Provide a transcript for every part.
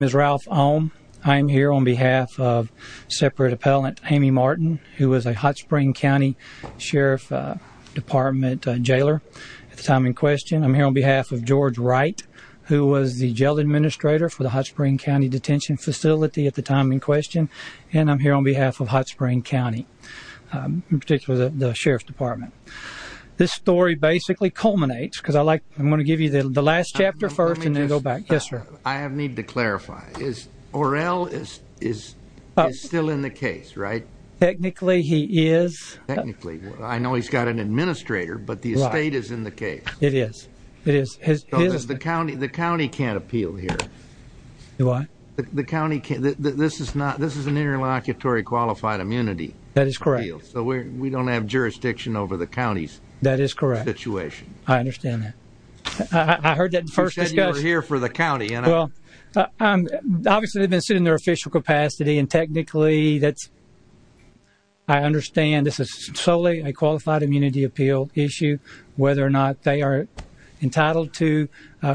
Ms. Ralph Ohm, I am here on behalf of separate appellant Amy Martin who was a Hot Spring County Sheriff Department jailer at the time in question. I'm here on behalf of George Wright who was the jail administrator for the Hot Spring County Detention Facility at the time in question and I'm here on behalf of Hot Spring County in particular the Sheriff's Department. This story basically culminates because I like I'm going to give you the last chapter first and then go back. Yes sir. I have need to clarify is Orrell is still in the case right? Technically he is. Technically I know he's got an administrator but the estate is in the case. It is. It is. The county can't appeal here. The what? The county can't. This is not this is an interlocutory qualified immunity. That is correct. So we don't have jurisdiction over the county's That is correct. Situation. I understand that. I heard that first discussion. You said you were here for the county and I'm. Well, obviously they've been sitting in their official capacity and technically that's I understand this is solely a qualified immunity appeal issue whether or not they are entitled to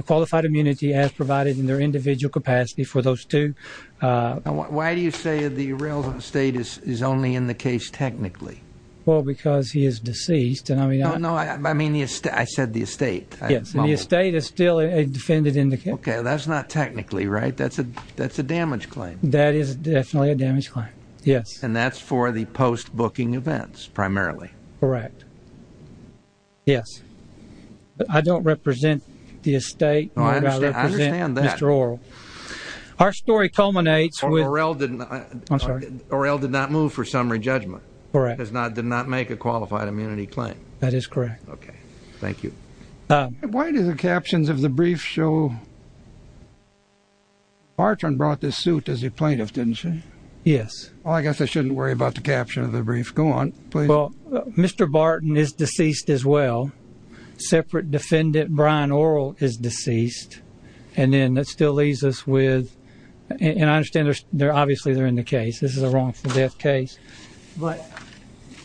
qualified immunity as provided in their individual capacity for those two. Why do you say the Orrell's in the state is only in the case technically? Well because he is deceased and I mean. No, no I mean the estate. I said the estate. Yes the estate is still a defendant in the case. Okay that's not technically right? That's a that's a damage claim. That is definitely a damage claim. Yes. And that's for the post booking events primarily. Correct. Yes. I don't represent the estate. I understand that. Mr. Orrell. Our story culminates with. Orrell did not. I'm sorry. Orrell did not move for summary judgment. Correct. Does not did not make a qualified immunity claim. That is correct. Okay. Thank you. Why do the captions of the brief show? Barton brought this suit as a plaintiff didn't she? Yes. Well I guess I shouldn't worry about the caption of the brief. Go on please. Well Mr. Barton is deceased as well. Separate defendant Brian Orrell is obviously they're in the case. This is a wrongful death case. But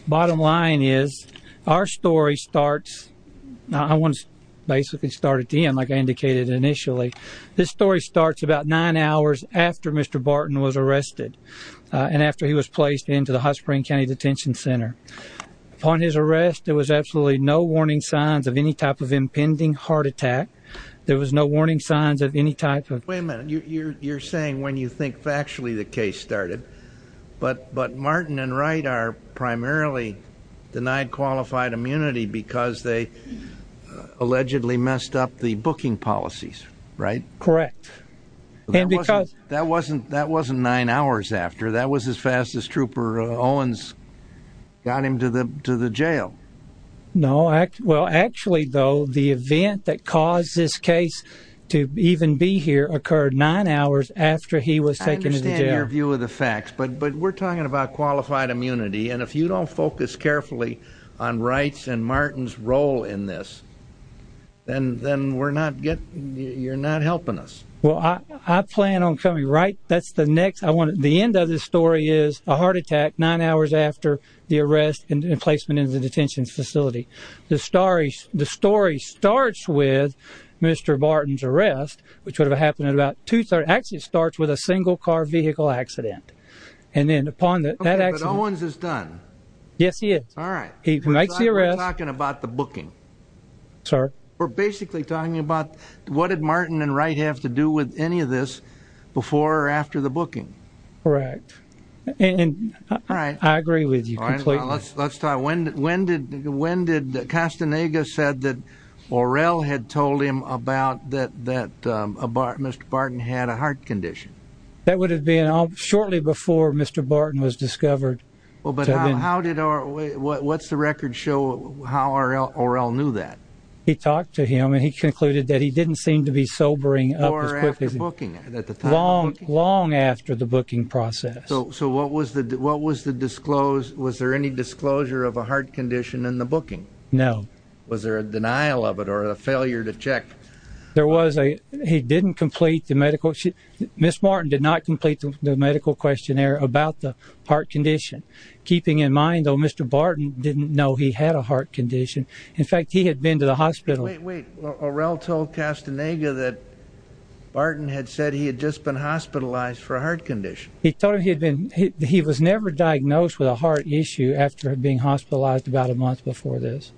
bottom line is our story starts. I want to basically start at the end like I indicated initially. This story starts about nine hours after Mr. Barton was arrested and after he was placed into the High Spring County Detention Center. Upon his arrest there was absolutely no warning signs of any type of impending heart attack. There was no warning signs of any type of heart attack. And that's when you think factually the case started. But but Martin and Wright are primarily denied qualified immunity because they allegedly messed up the booking policies. Right. Correct. And because that wasn't that wasn't nine hours after that was as fast as Trooper Owens got him to the to the jail. No. Well actually though the event that caused this case to even be here occurred nine hours after he was taken to the jail. I understand your view of the facts but but we're talking about qualified immunity. And if you don't focus carefully on Wright's and Martin's role in this then then we're not getting you're not helping us. Well I plan on coming right. That's the next I want. The end of this story is a heart attack nine hours after the arrest and placement in the detention facility. The stories the story starts with Mr. Barton's arrest which would have happened at about 2 3rd actually starts with a single car vehicle accident. And then upon that accident Owens is done. Yes he is. All right. He makes the arrest. We're talking about the booking. Sir. We're basically talking about what did Martin and Wright have to do with any of this before or after the booking. Correct. And I agree with you. Let's talk. When when did when did Castaneda said that Orrell had told him about that that Mr. Barton had a heart condition. That would have been shortly before Mr. Barton was discovered. Well but how did or what's the record show how Orrell knew that. He talked to him and he concluded that he didn't seem to be sobering long long after the booking process. So so what was the what was the disclose. Was there any disclosure of a heart condition in the booking. No. Was there a denial of it or a failure to check. There was a he didn't complete the medical. Miss Martin did not complete the medical questionnaire about the heart condition. Keeping in mind though Mr. Barton didn't know he had a heart condition. In fact he had been to the hospital. Wait wait. Orrell told Castaneda that Barton had said he had just been hospitalized for a heart condition. He told him he had been. He was never diagnosed with a heart issue after being hospitalized about a month before this.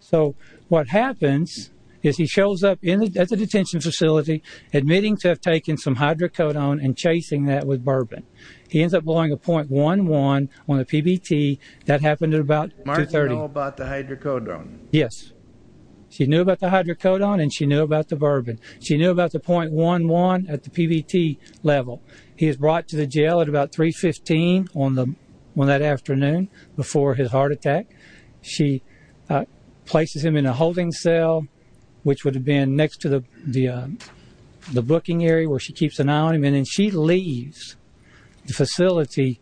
So what happens is he shows up in the detention facility admitting to have taken some hydrocodone and chasing that with bourbon. He ends up blowing a point one one on the PBT. That happened at about 30 about the hydrocodone. Yes. She knew about the hydrocodone and she knew about the bourbon. She knew about the point one one at the PBT level. He is brought to the jail at about 315 on the one that afternoon before his heart attack. She places him in a holding cell which would have been next to the the the booking area where she keeps an eye on him and she leaves the facility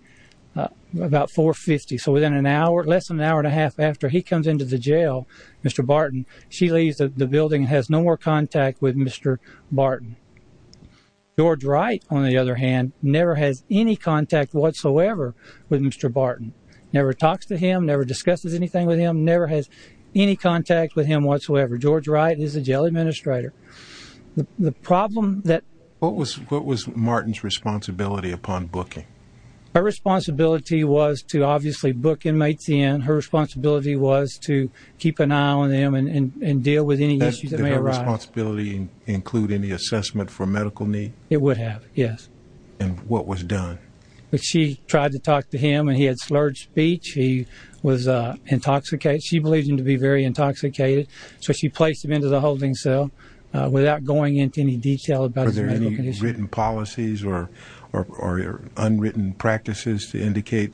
about 450. So within an hour less than an hour and a half after he comes into the jail Mr. Barton she leaves the building has no more contact with Mr. Barton. George Wright on the other hand never has any contact whatsoever with Mr. Barton never talks to him never discusses anything with him never has any contact with him whatsoever. George Wright is a jail administrator. The problem that what was what was Martin's responsibility upon booking her responsibility was to obviously book inmates in her responsibility was to keep an eye on them and deal with any issues that may arise. Responsibility include any assessment for medical need. It would have. Yes. And what was done. She tried to talk to him and he had slurred speech. He was intoxicated. She believes him to be very intoxicated. So she placed him into the holding cell without going into any detail about their written policies or or unwritten practices to indicate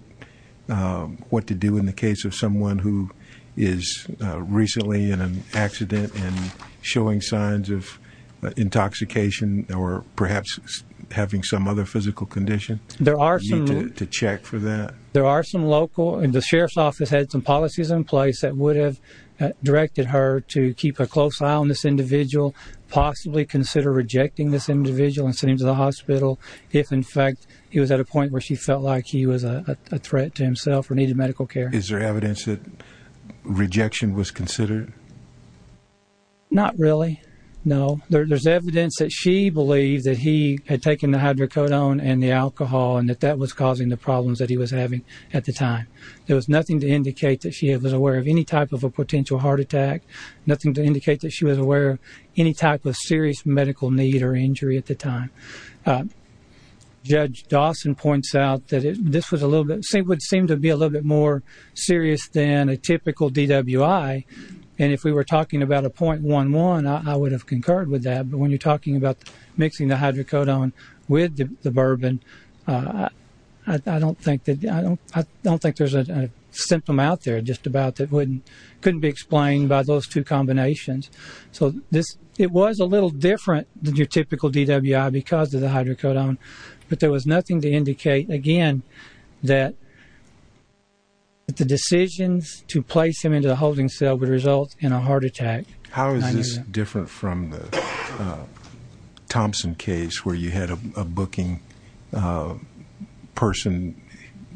what to do in the case of someone who is recently in an accident and showing signs of intoxication or perhaps having some other physical condition. There are some to check for that. There are some local and the to keep a close eye on this individual possibly consider rejecting this individual and send him to the hospital if in fact he was at a point where she felt like he was a threat to himself or needed medical care. Is there evidence that rejection was considered not really. No. There's evidence that she believes that he had taken the hydrocodone and the alcohol and that that was causing the problems that he was having at the time. There was nothing to indicate that she was aware of any type of a potential heart attack. Nothing to indicate that she was aware of any type of serious medical need or injury at the time. Judge Dawson points out that this was a little bit same would seem to be a little bit more serious than a typical DWI. And if we were talking about a point one one I would have concurred with that. But when you're talking about mixing the hydrocodone with the there's a symptom out there just about that wouldn't couldn't be explained by those two combinations. So this it was a little different than your typical DWI because of the hydrocodone. But there was nothing to indicate again that the decisions to place him into the holding cell would result in a heart attack. How is this different from the Thompson case where you had a booking person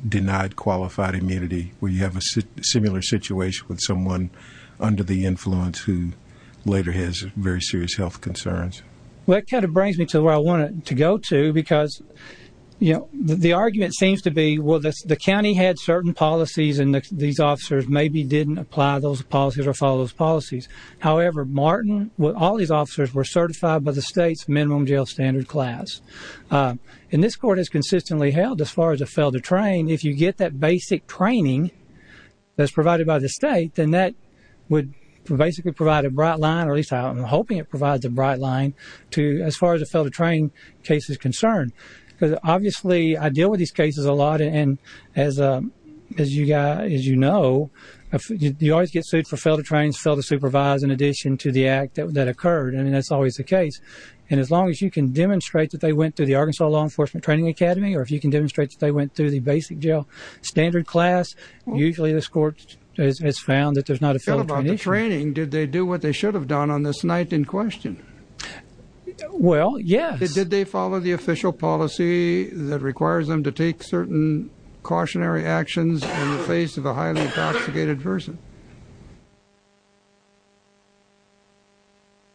denied qualified immunity where you have a similar situation with someone under the influence who later has very serious health concerns. Well it kind of brings me to where I wanted to go to because you know the argument seems to be well the county had certain policies and these officers maybe didn't apply those policies or follow those policies. However Martin with all these officers were certified by the state's home jail standard class. And this court is consistently held as far as a failed to train. If you get that basic training that's provided by the state then that would basically provide a bright line or at least I'm hoping it provides a bright line to as far as a failed to train case is concerned because obviously I deal with these cases a lot. And as you know you always get sued for failed to train and failed to supervise in addition to the act that occurred. I mean that's always the case. And as long as you can demonstrate that they went to the Arkansas Law Enforcement Training Academy or if you can demonstrate that they went through the basic jail standard class usually this court has found that there's not a failed training. Did they do what they should have done on this night in question. Well yes. Did they follow the official policy that requires them to take certain cautionary actions in the face of a highly intoxicated person.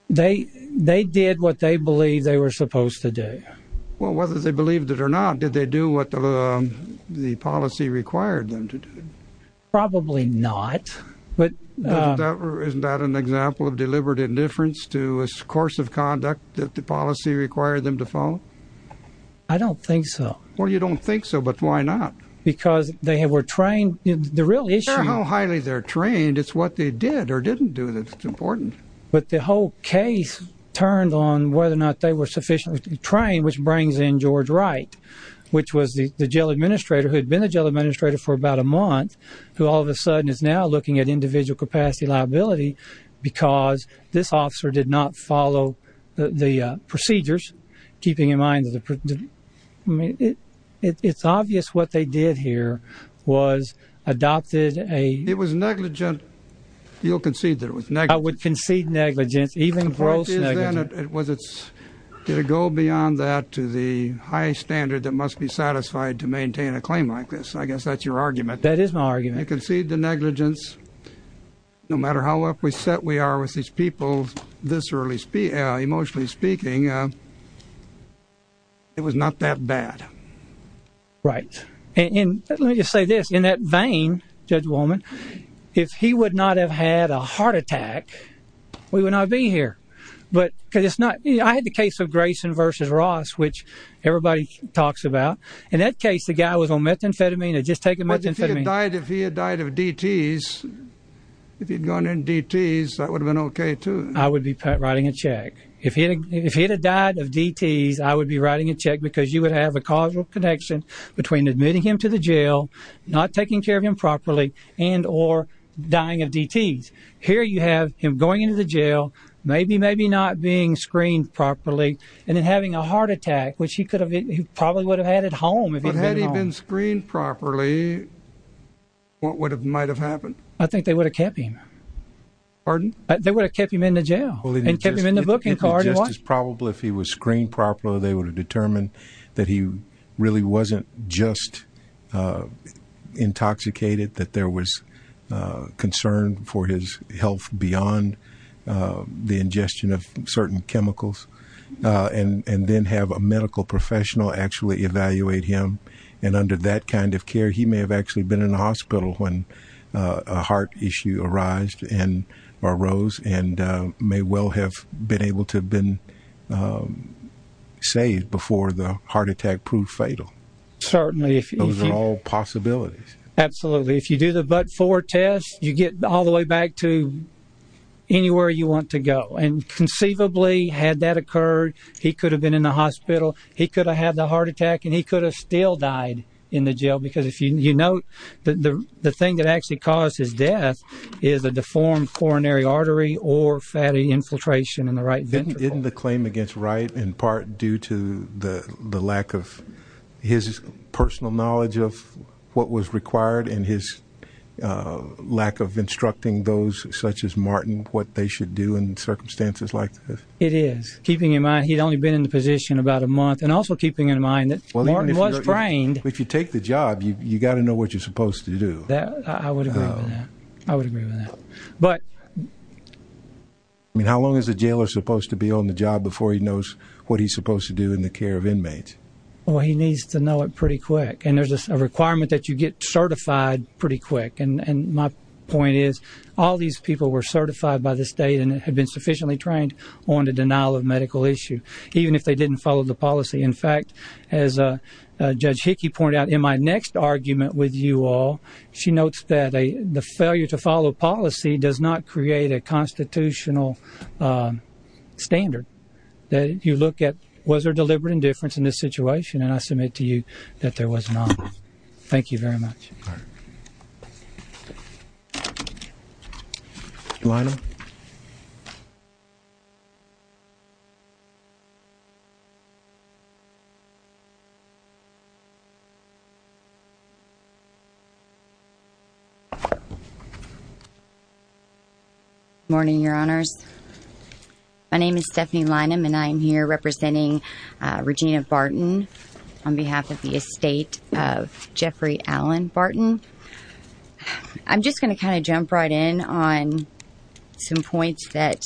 They they did what they believe they were supposed to do. Well whether they believed it or not. Did they do what the policy required them to do. Probably not. But isn't that an example of deliberate indifference to a course of conduct that the policy required them to follow. I don't think so. Well you don't think so. But why not. Because they were trained in the real issue how highly they're trained. It's what they did or didn't do. That's important. But the whole case turned on whether or not they were sufficiently trained which brings in George Wright which was the jail administrator who had been a jail administrator for about a month who all of a sudden is now looking at individual capacity liability because this officer did not follow the procedures keeping in mind that it's obvious what they did here was adopted a. It was negligent. You'll concede that it was. I would concede negligence even gross. Was it. Did it go beyond that to the high standard that must be satisfied to maintain a claim like this. I guess that's your argument. That is my argument. I concede the negligence no matter how up we set we are with these people this early. Emotionally speaking it was not that bad. Right. And let me just say this in that vein. Judge woman if he would not have had a heart attack we would not be here. But it's not. I had the case of Grayson versus Ross which everybody talks about. In that case the guy was on methamphetamine and just take a medicine. He died if he had died of DT's if he'd gone in DT's that would've been OK too. I would be writing a check if he if he had died of DT's I would be writing a check because you would have a causal connection between admitting him to the jail not taking care of him properly and or dying of DT's. Here you have him going into the jail maybe maybe not being screened properly and then having a heart attack which he could have probably would have had at home had he been screened properly. What would have might have happened. I think they would have kept him. Pardon. They would have kept him in the jail and kept him in the booking card just as probably if he was screened properly they would have determined that he really wasn't just intoxicated that there was concern for his health beyond the ingestion of certain chemicals and then have a medical professional actually evaluate him and under that kind of care he may have actually been in the hospital when a heart issue arose and may well have been able to have been saved before the heart attack proved fatal. Certainly if those are all possibilities. Absolutely. If you do the but for test you get all the way back to anywhere you want to go and conceivably had that occurred he could have been in the hospital. He could have had the heart attack and he could have still died in the jail because if you know the thing that actually caused his death is a deformed coronary artery or fatty infiltration in the right ventricle in the claim against the right in part due to the lack of his personal knowledge of what was required and his lack of instructing those such as Martin what they should do in circumstances like this. It is keeping in mind he'd only been in the position about a month and also keeping in mind that Martin was trained. If you take the job you got to know what you're supposed to do. I would agree with that. But I mean how long is the jailer supposed to be on the job before he knows what he's supposed to do in the care of inmates. Well he needs to know it pretty quick and there's a requirement that you get certified pretty quick. And my point is all these people were certified by the state and had been sufficiently trained on the denial of medical issue even if they didn't follow the policy. In fact as Judge Hickey pointed out in my next argument with you all she notes that the failure to follow policy does not create a constitutional standard that you look at was there deliberate indifference in this situation and I submit to you that there was not. Thank you very much. Morning Your Honors. My name is Stephanie Lynham and I'm here representing Regina Barton on behalf of the estate of Jeffrey Allen Barton. I'm just going to kind of jump right in on some points that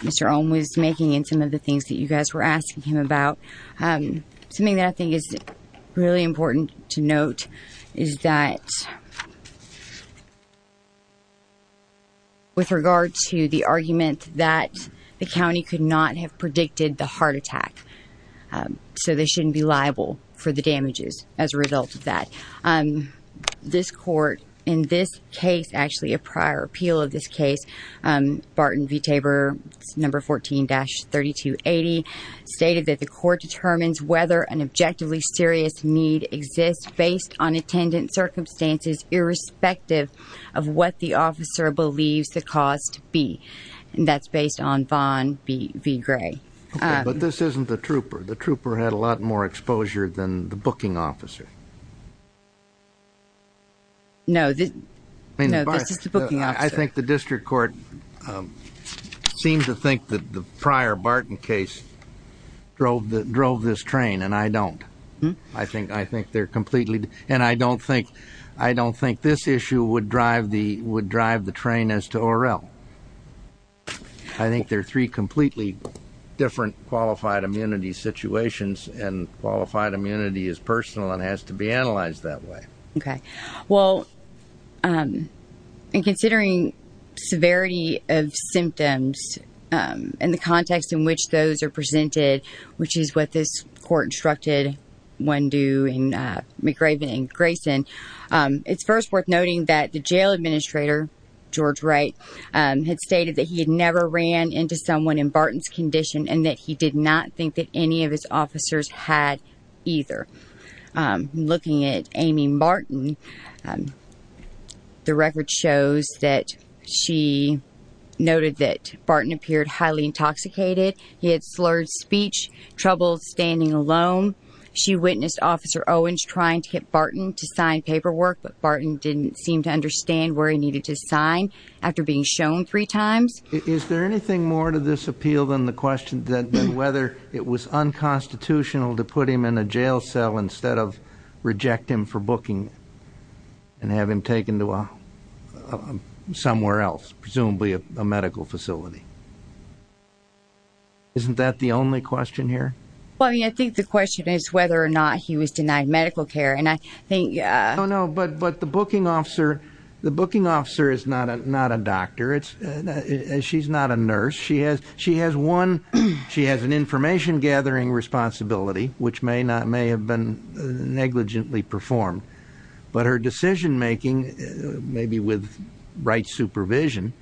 Mr. Ohm was making and some of the things that you guys were asking him about. Something that I think is really important to note is that with regard to the argument that the county could not have predicted the heart attack so they shouldn't be liable for the damages as a result of that. This court in this case actually a prior appeal of this case Barton v. Tabor number 14-3280 stated that the court determines whether an objectively serious need exists based on attendant circumstances irrespective of what the officer believes the cause to be and that's based on Vaughn v. Gray. But this isn't the trooper. The trooper had a lot more exposure than the booking officer. No, this is the booking officer. I think the district court seemed to think that the prior Barton case drove this train and I don't. I don't think this issue would drive the train as to Orell. I think there are three completely different qualified immunity situations and qualified immunity is personal and has to be analyzed that way. Considering severity of symptoms and the context in which those are presented, which is what this court instructed when doing McRaven v. Grayson, it's first worth noting that the jail administrator George Wright had stated that he had never ran into someone in Barton's condition and that he did not think that any of his officers had either. Looking at Amy Barton, the record shows that she noted that Barton appeared highly intoxicated. He had slurred speech, trouble standing alone. She witnessed Officer McRaven's unconstitutional to put him in a jail cell instead of reject him for booking and have him taken to somewhere else, presumably a medical facility. Isn't that the only question here? Well, I mean, I think the question is whether or not he was denied medical care. No, no, but the booking officer is not a doctor. She's not a nurse. She has an information gathering responsibility, which may have been negligently performed, but her decision making, maybe with Wright's supervision,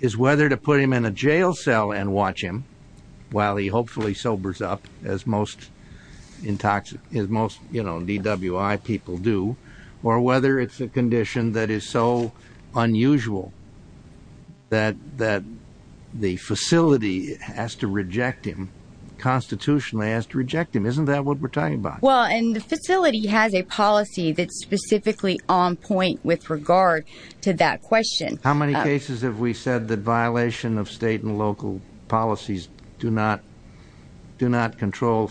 is whether to put him in a jail cell and watch him while he was in a medical facility. I don't know why people do or whether it's a condition that is so unusual that the facility has to reject him, constitutionally has to reject him. Isn't that what we're talking about? Well, and the facility has a policy that's specifically on point with regard to that question. How many cases have we said that violation of state and local policies do not control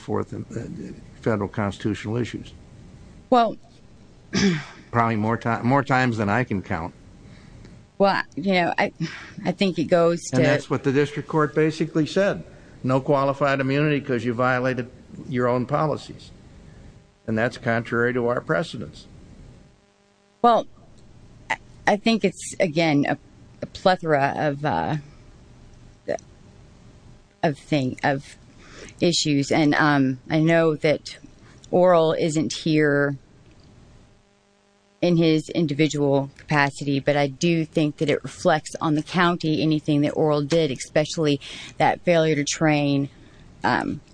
federal constitutional issues? Probably more times than I can count. Well, I think it goes to... And that's what the district court basically said. No qualified immunity because you violated your own policies. And that's contrary to our precedence. Well, I think it's, again, a plethora of issues, and I know that Oral isn't here in his individual capacity, but I do think that it reflects on the county anything that Oral did, especially that failure to train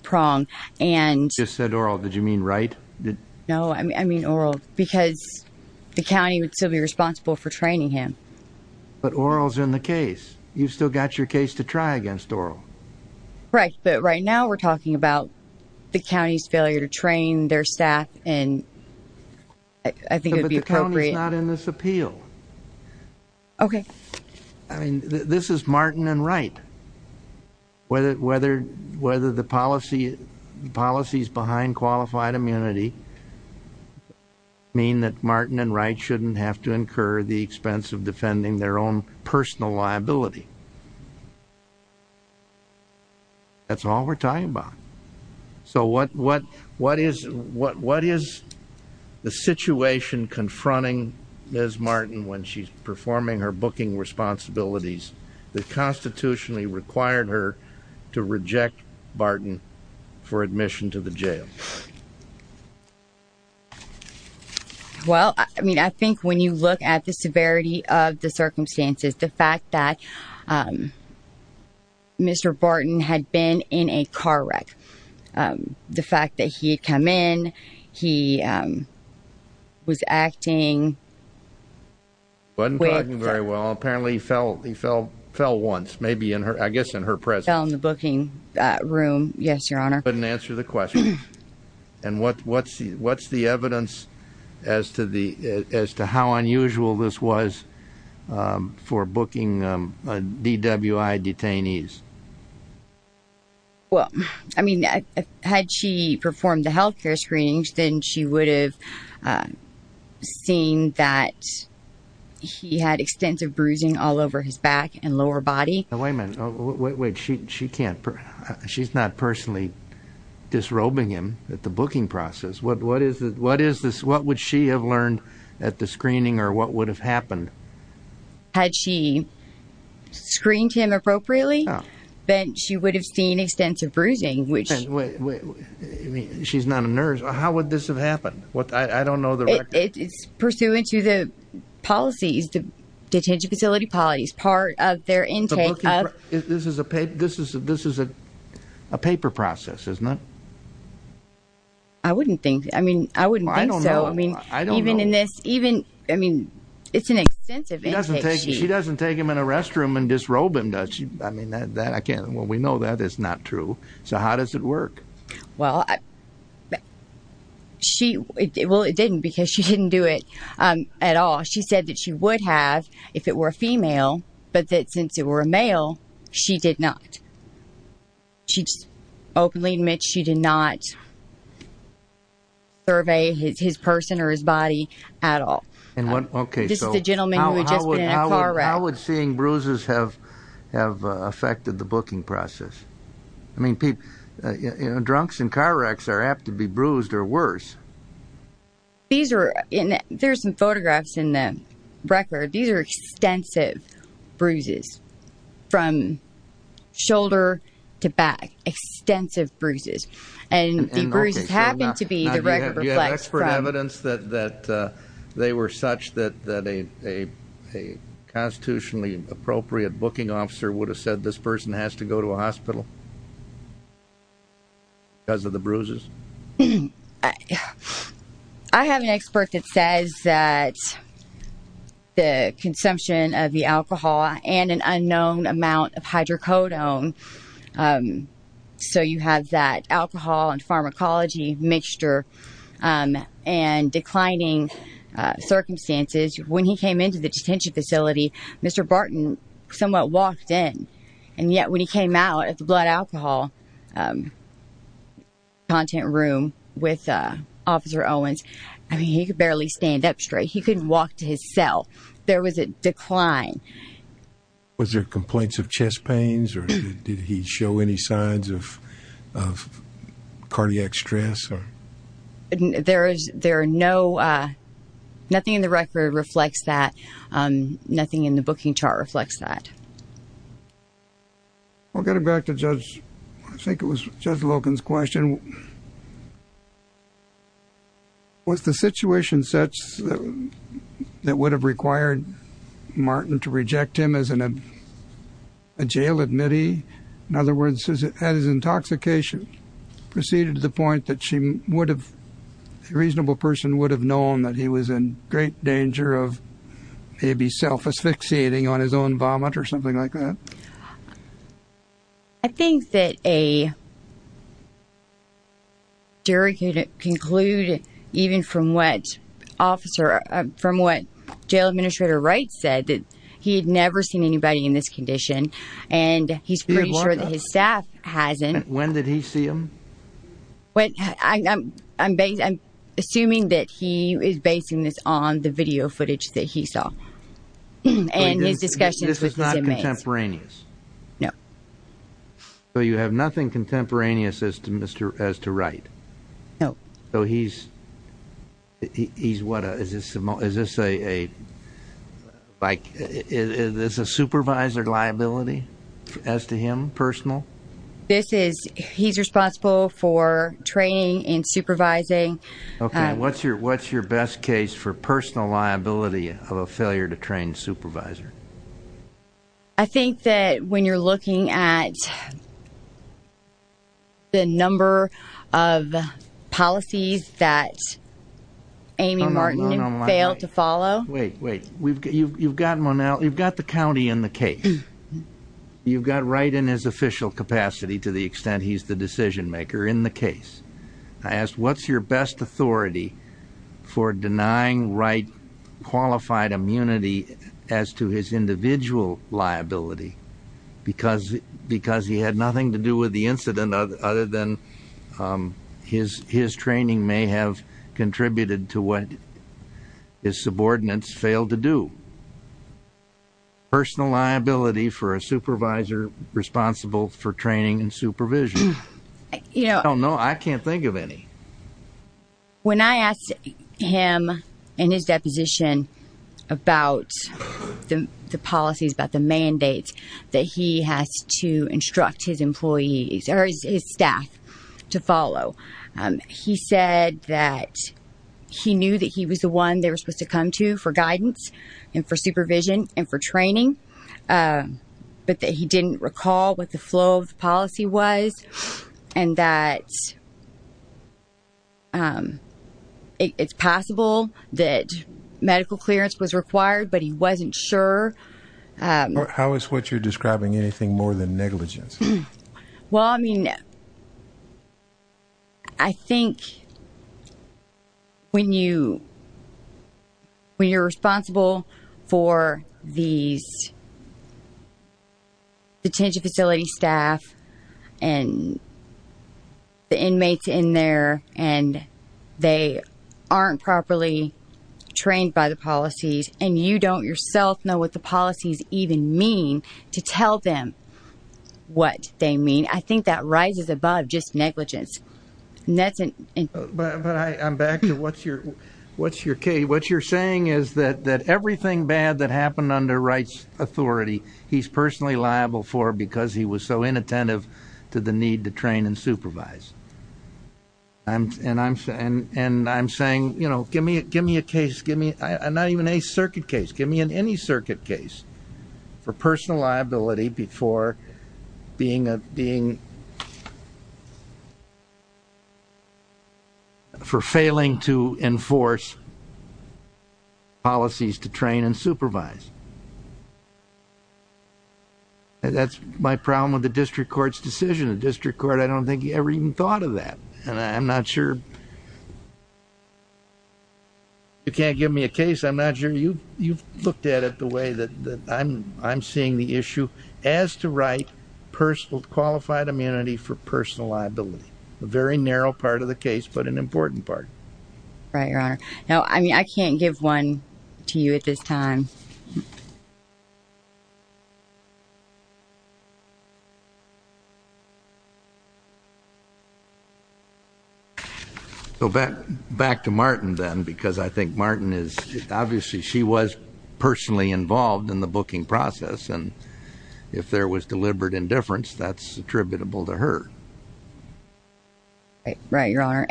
Prong. You just said Oral. Did you mean Wright? No, I mean Oral because the county would still be responsible for training him. But Oral's in the case. You've still got your case to try against Oral. Correct, but right now we're talking about the county's failure to train their staff and I think it would be appropriate... But the county's not in this appeal. Okay. I mean, this is Martin and Wright. Whether the policies behind qualified immunity mean that Martin and Wright shouldn't have to incur the expense of defending their own personal liability. That's all we're talking about. So what is the situation confronting Ms. Martin when she's performing her booking responsibilities that constitutionally required her to reject Martin for admission to the jail? Well, I mean, I think when you look at the severity of the circumstances, the fact that Mr. Barton had been in a car wreck, the fact that he had come in, he was acting... Wasn't talking very well. Apparently he fell once, maybe in her... I guess in her presence. Fell in the booking room. Yes, Your Honor. And what's the evidence as to how unusual this was for booking DWI detainees? Well, I mean, had she performed the health care screenings, then she would have seen that he had extensive bruising all over his back and lower body. Wait a minute. She's not personally disrobing him at the booking process. What would she have learned at the screening or what would have happened? Had she screened him appropriately, then she would have seen extensive bruising. She's not a nurse. How would this have happened? It's pursuant to the policies, the detention facility policies, part of their intake of... This is a paper process, isn't it? I wouldn't think so. I don't know. It's an extensive intake. She doesn't take him in a car. How does it work? Well, it didn't because she didn't do it at all. She said that she would have if it were a female, but that since it were a male, she did not. She openly admits she did not survey his person or his body at all. This is a gentleman who had just been in a car wreck. How would seeing bruises have affected the booking process? Drunks in car wrecks are apt to be bruised or worse. There are some photographs in the record. These are extensive bruises from shoulder to back. Extensive bruises. And the bruises happen to be the record reflects from... A constitutionally appropriate booking officer would have said this person has to go to a hospital because of the bruises? I have an expert that says that the consumption of the alcohol and an unknown amount of hydrocodone, so you have that alcohol and pharmacology mixture and declining circumstances. When he came into the detention facility, Mr. Barton somewhat walked in. And yet when he came out at the blood alcohol content room with Officer Owens, he could barely stand up straight. He couldn't walk to his cell. There was a decline. Was there complaints of chest pains or did there... Nothing in the record reflects that. Nothing in the booking chart reflects that. Getting back to Judge... I think it was Judge Logan's question. Was the situation such that would have required Martin to reject him as a jail admittee? In other words, had his intoxication proceeded to the point that a reasonable person would have known that he was in great danger of maybe self-asphyxiating on his own vomit or something like that? I think that a jury could conclude even from what jail administrator Wright said that he had never seen anybody in this condition and he's pretty sure that his staff hasn't. When did he see him? I'm assuming that he is basing this on the video footage that he saw and his discussions with his inmates. This is not contemporaneous? No. So you have nothing contemporaneous as to Wright? No. Is this a supervisor liability as to him, personal? He's responsible for training and supervising. What's your best case for personal liability of a failure to train supervisor? I think that when you're looking at the number of policies that Amy Martin failed to follow. You've got the county in the case. You've got Wright in his official capacity to the extent he's the decision maker in the case. I ask, what's your best authority for denying Wright qualified immunity as to his individual liability because he had nothing to do with the incident other than his training may have contributed to what his subordinates failed to do? Personal liability for a supervisor responsible for training and supervision? I don't know. I can't think of any. When I asked him in his deposition about the policies, about the mandates that he has to instruct his employees or his staff to follow. He said that he knew that he was the one they were supposed to come to for guidance and for supervision and for advice and that it's possible that medical clearance was required, but he wasn't sure. How is what you're describing anything more than negligence? I think when you're responsible for these detention facility staff and the inmates in there and they aren't properly trained by the policies and you don't yourself know what the policies even mean to tell them what they mean. I think that rises above just negligence. I'm back to what you're saying is that everything bad that happened under rights authority he's personally liable for because he was so inattentive to the need to train and supervise. I'm saying give me a case, not even a circuit case, give me any circuit case for personal liability before being for failing to enforce policies to train and supervise. That's my problem with the district court's decision. The district court, I don't think he ever even thought of that. I'm not sure. You can't give me a case. I'm not sure. You've looked at it the way that I'm seeing the issue. As to right, qualified immunity for personal liability. A very narrow part of the case, but an important part. I can't give one to you at this time. Back to Martin then, because I think Martin is, obviously she was personally involved in the booking process. If there was deliberate indifference, that's attributable to her. Right, your honor.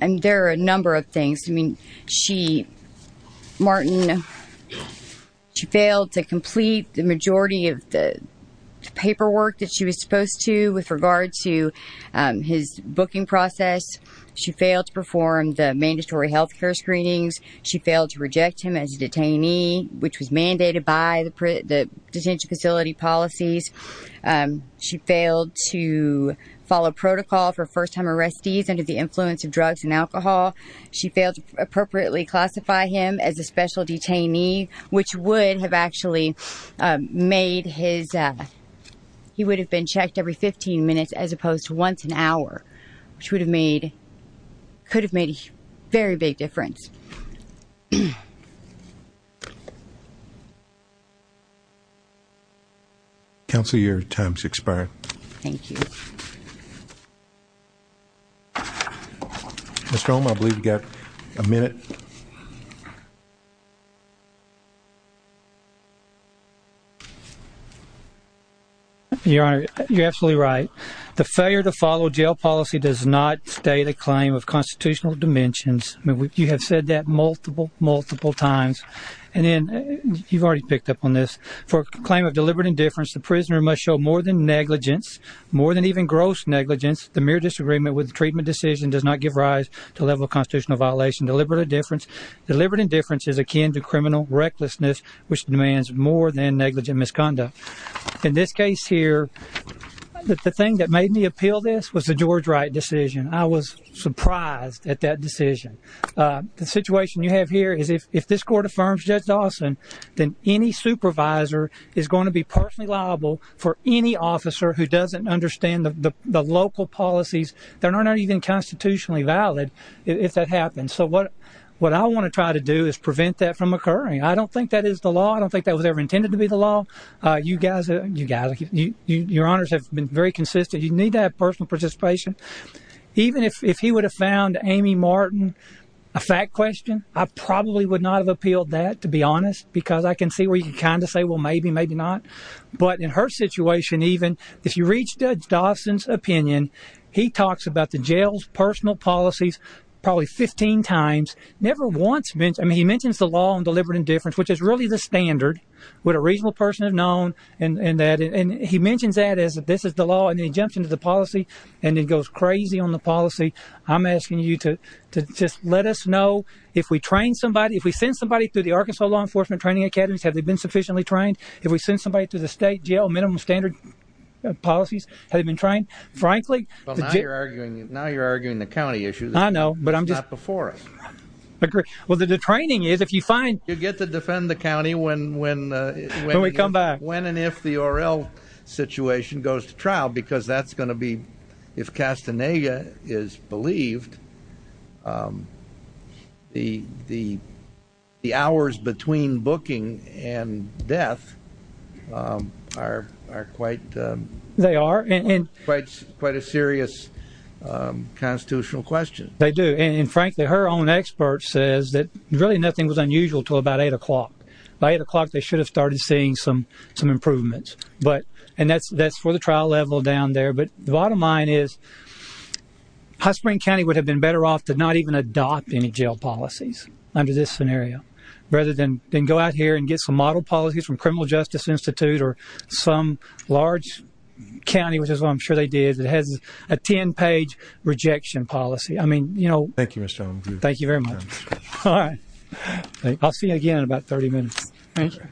There are a number of things. Martin, she failed to complete the majority of the paperwork that she was supposed to with regard to his booking process. She failed to perform the mandatory health care screenings. She failed to reject him as a detainee, which was mandated by the detention facility policies. She failed to appropriately classify him as a special detainee, which would have actually made his, he would have been checked every 15 minutes as opposed to once an hour, which would have made, could have made a very big difference. Counselor, your time has expired. Thank you. Mr. Holm, I believe you've got a minute. Your honor, you're absolutely right. The failure to follow jail policy does not stay the claim of constitutional dimensions. You have said that multiple, multiple times. You've already picked up on this. For a claim of deliberate indifference, the prisoner must show more than negligence, more than even gross negligence. The mere disagreement with the treatment decision does not give rise to a level of constitutional violation. Deliberate indifference is akin to criminal recklessness, which demands more than negligent misconduct. In this case here, the thing that made me appeal this was the George Wright decision. I was surprised at that decision. The situation you have here is if this court affirms Judge Dawson, then any supervisor is going to be personally liable for any officer who doesn't understand the local policies that are not even constitutionally valid if that happens. So what I want to try to do is prevent that from occurring. I don't think that is the law. I don't think that was ever intended to be the law. You guys, your honors have been very consistent. You need to have personal participation. Even if he would have found Amy Martin a fact question, I probably would not have appealed that, to be honest, because I can see where you can kind of say, well, maybe, maybe not. But in her situation, even, if you reach Judge Dawson's opinion, he talks about the jail's personal policies probably 15 times. Never once, I mean, he mentions the law on deliberate indifference, which is really the standard would a regional person have known. And he mentions that as this is the law. And then he jumps into the policy, and he goes crazy on the policy. I'm asking you to just let us know if we train somebody, if we send somebody to the Arkansas Law Enforcement Training Academies, have they been sufficiently trained? If we send somebody to the state jail, minimum standard policies, have they been trained? Frankly... Now you're arguing the county issue. I know, but I'm just... You get to defend the county when... When we come back. When and if the O.R.L. situation goes to trial, because that's going to be, if Castaneda is believed, the hours between booking and death are quite... They are. Quite a serious constitutional question. They do. And frankly, her own expert says that really nothing was unusual until about 8 o'clock. By 8 o'clock, they should have started seeing some improvements. But... And that's for the trial level down there. But the bottom line is High Spring County would have been better off to not even adopt any jail policies under this scenario, rather than go out here and get some model policies from Criminal Justice Institute or some large county, which is what I'm sure they did, that has a 10-page rejection policy. I mean, you know... Thank you, Mr. Allen. Thank you very much. Alright. I'll see you again in about 30 minutes. Thank you.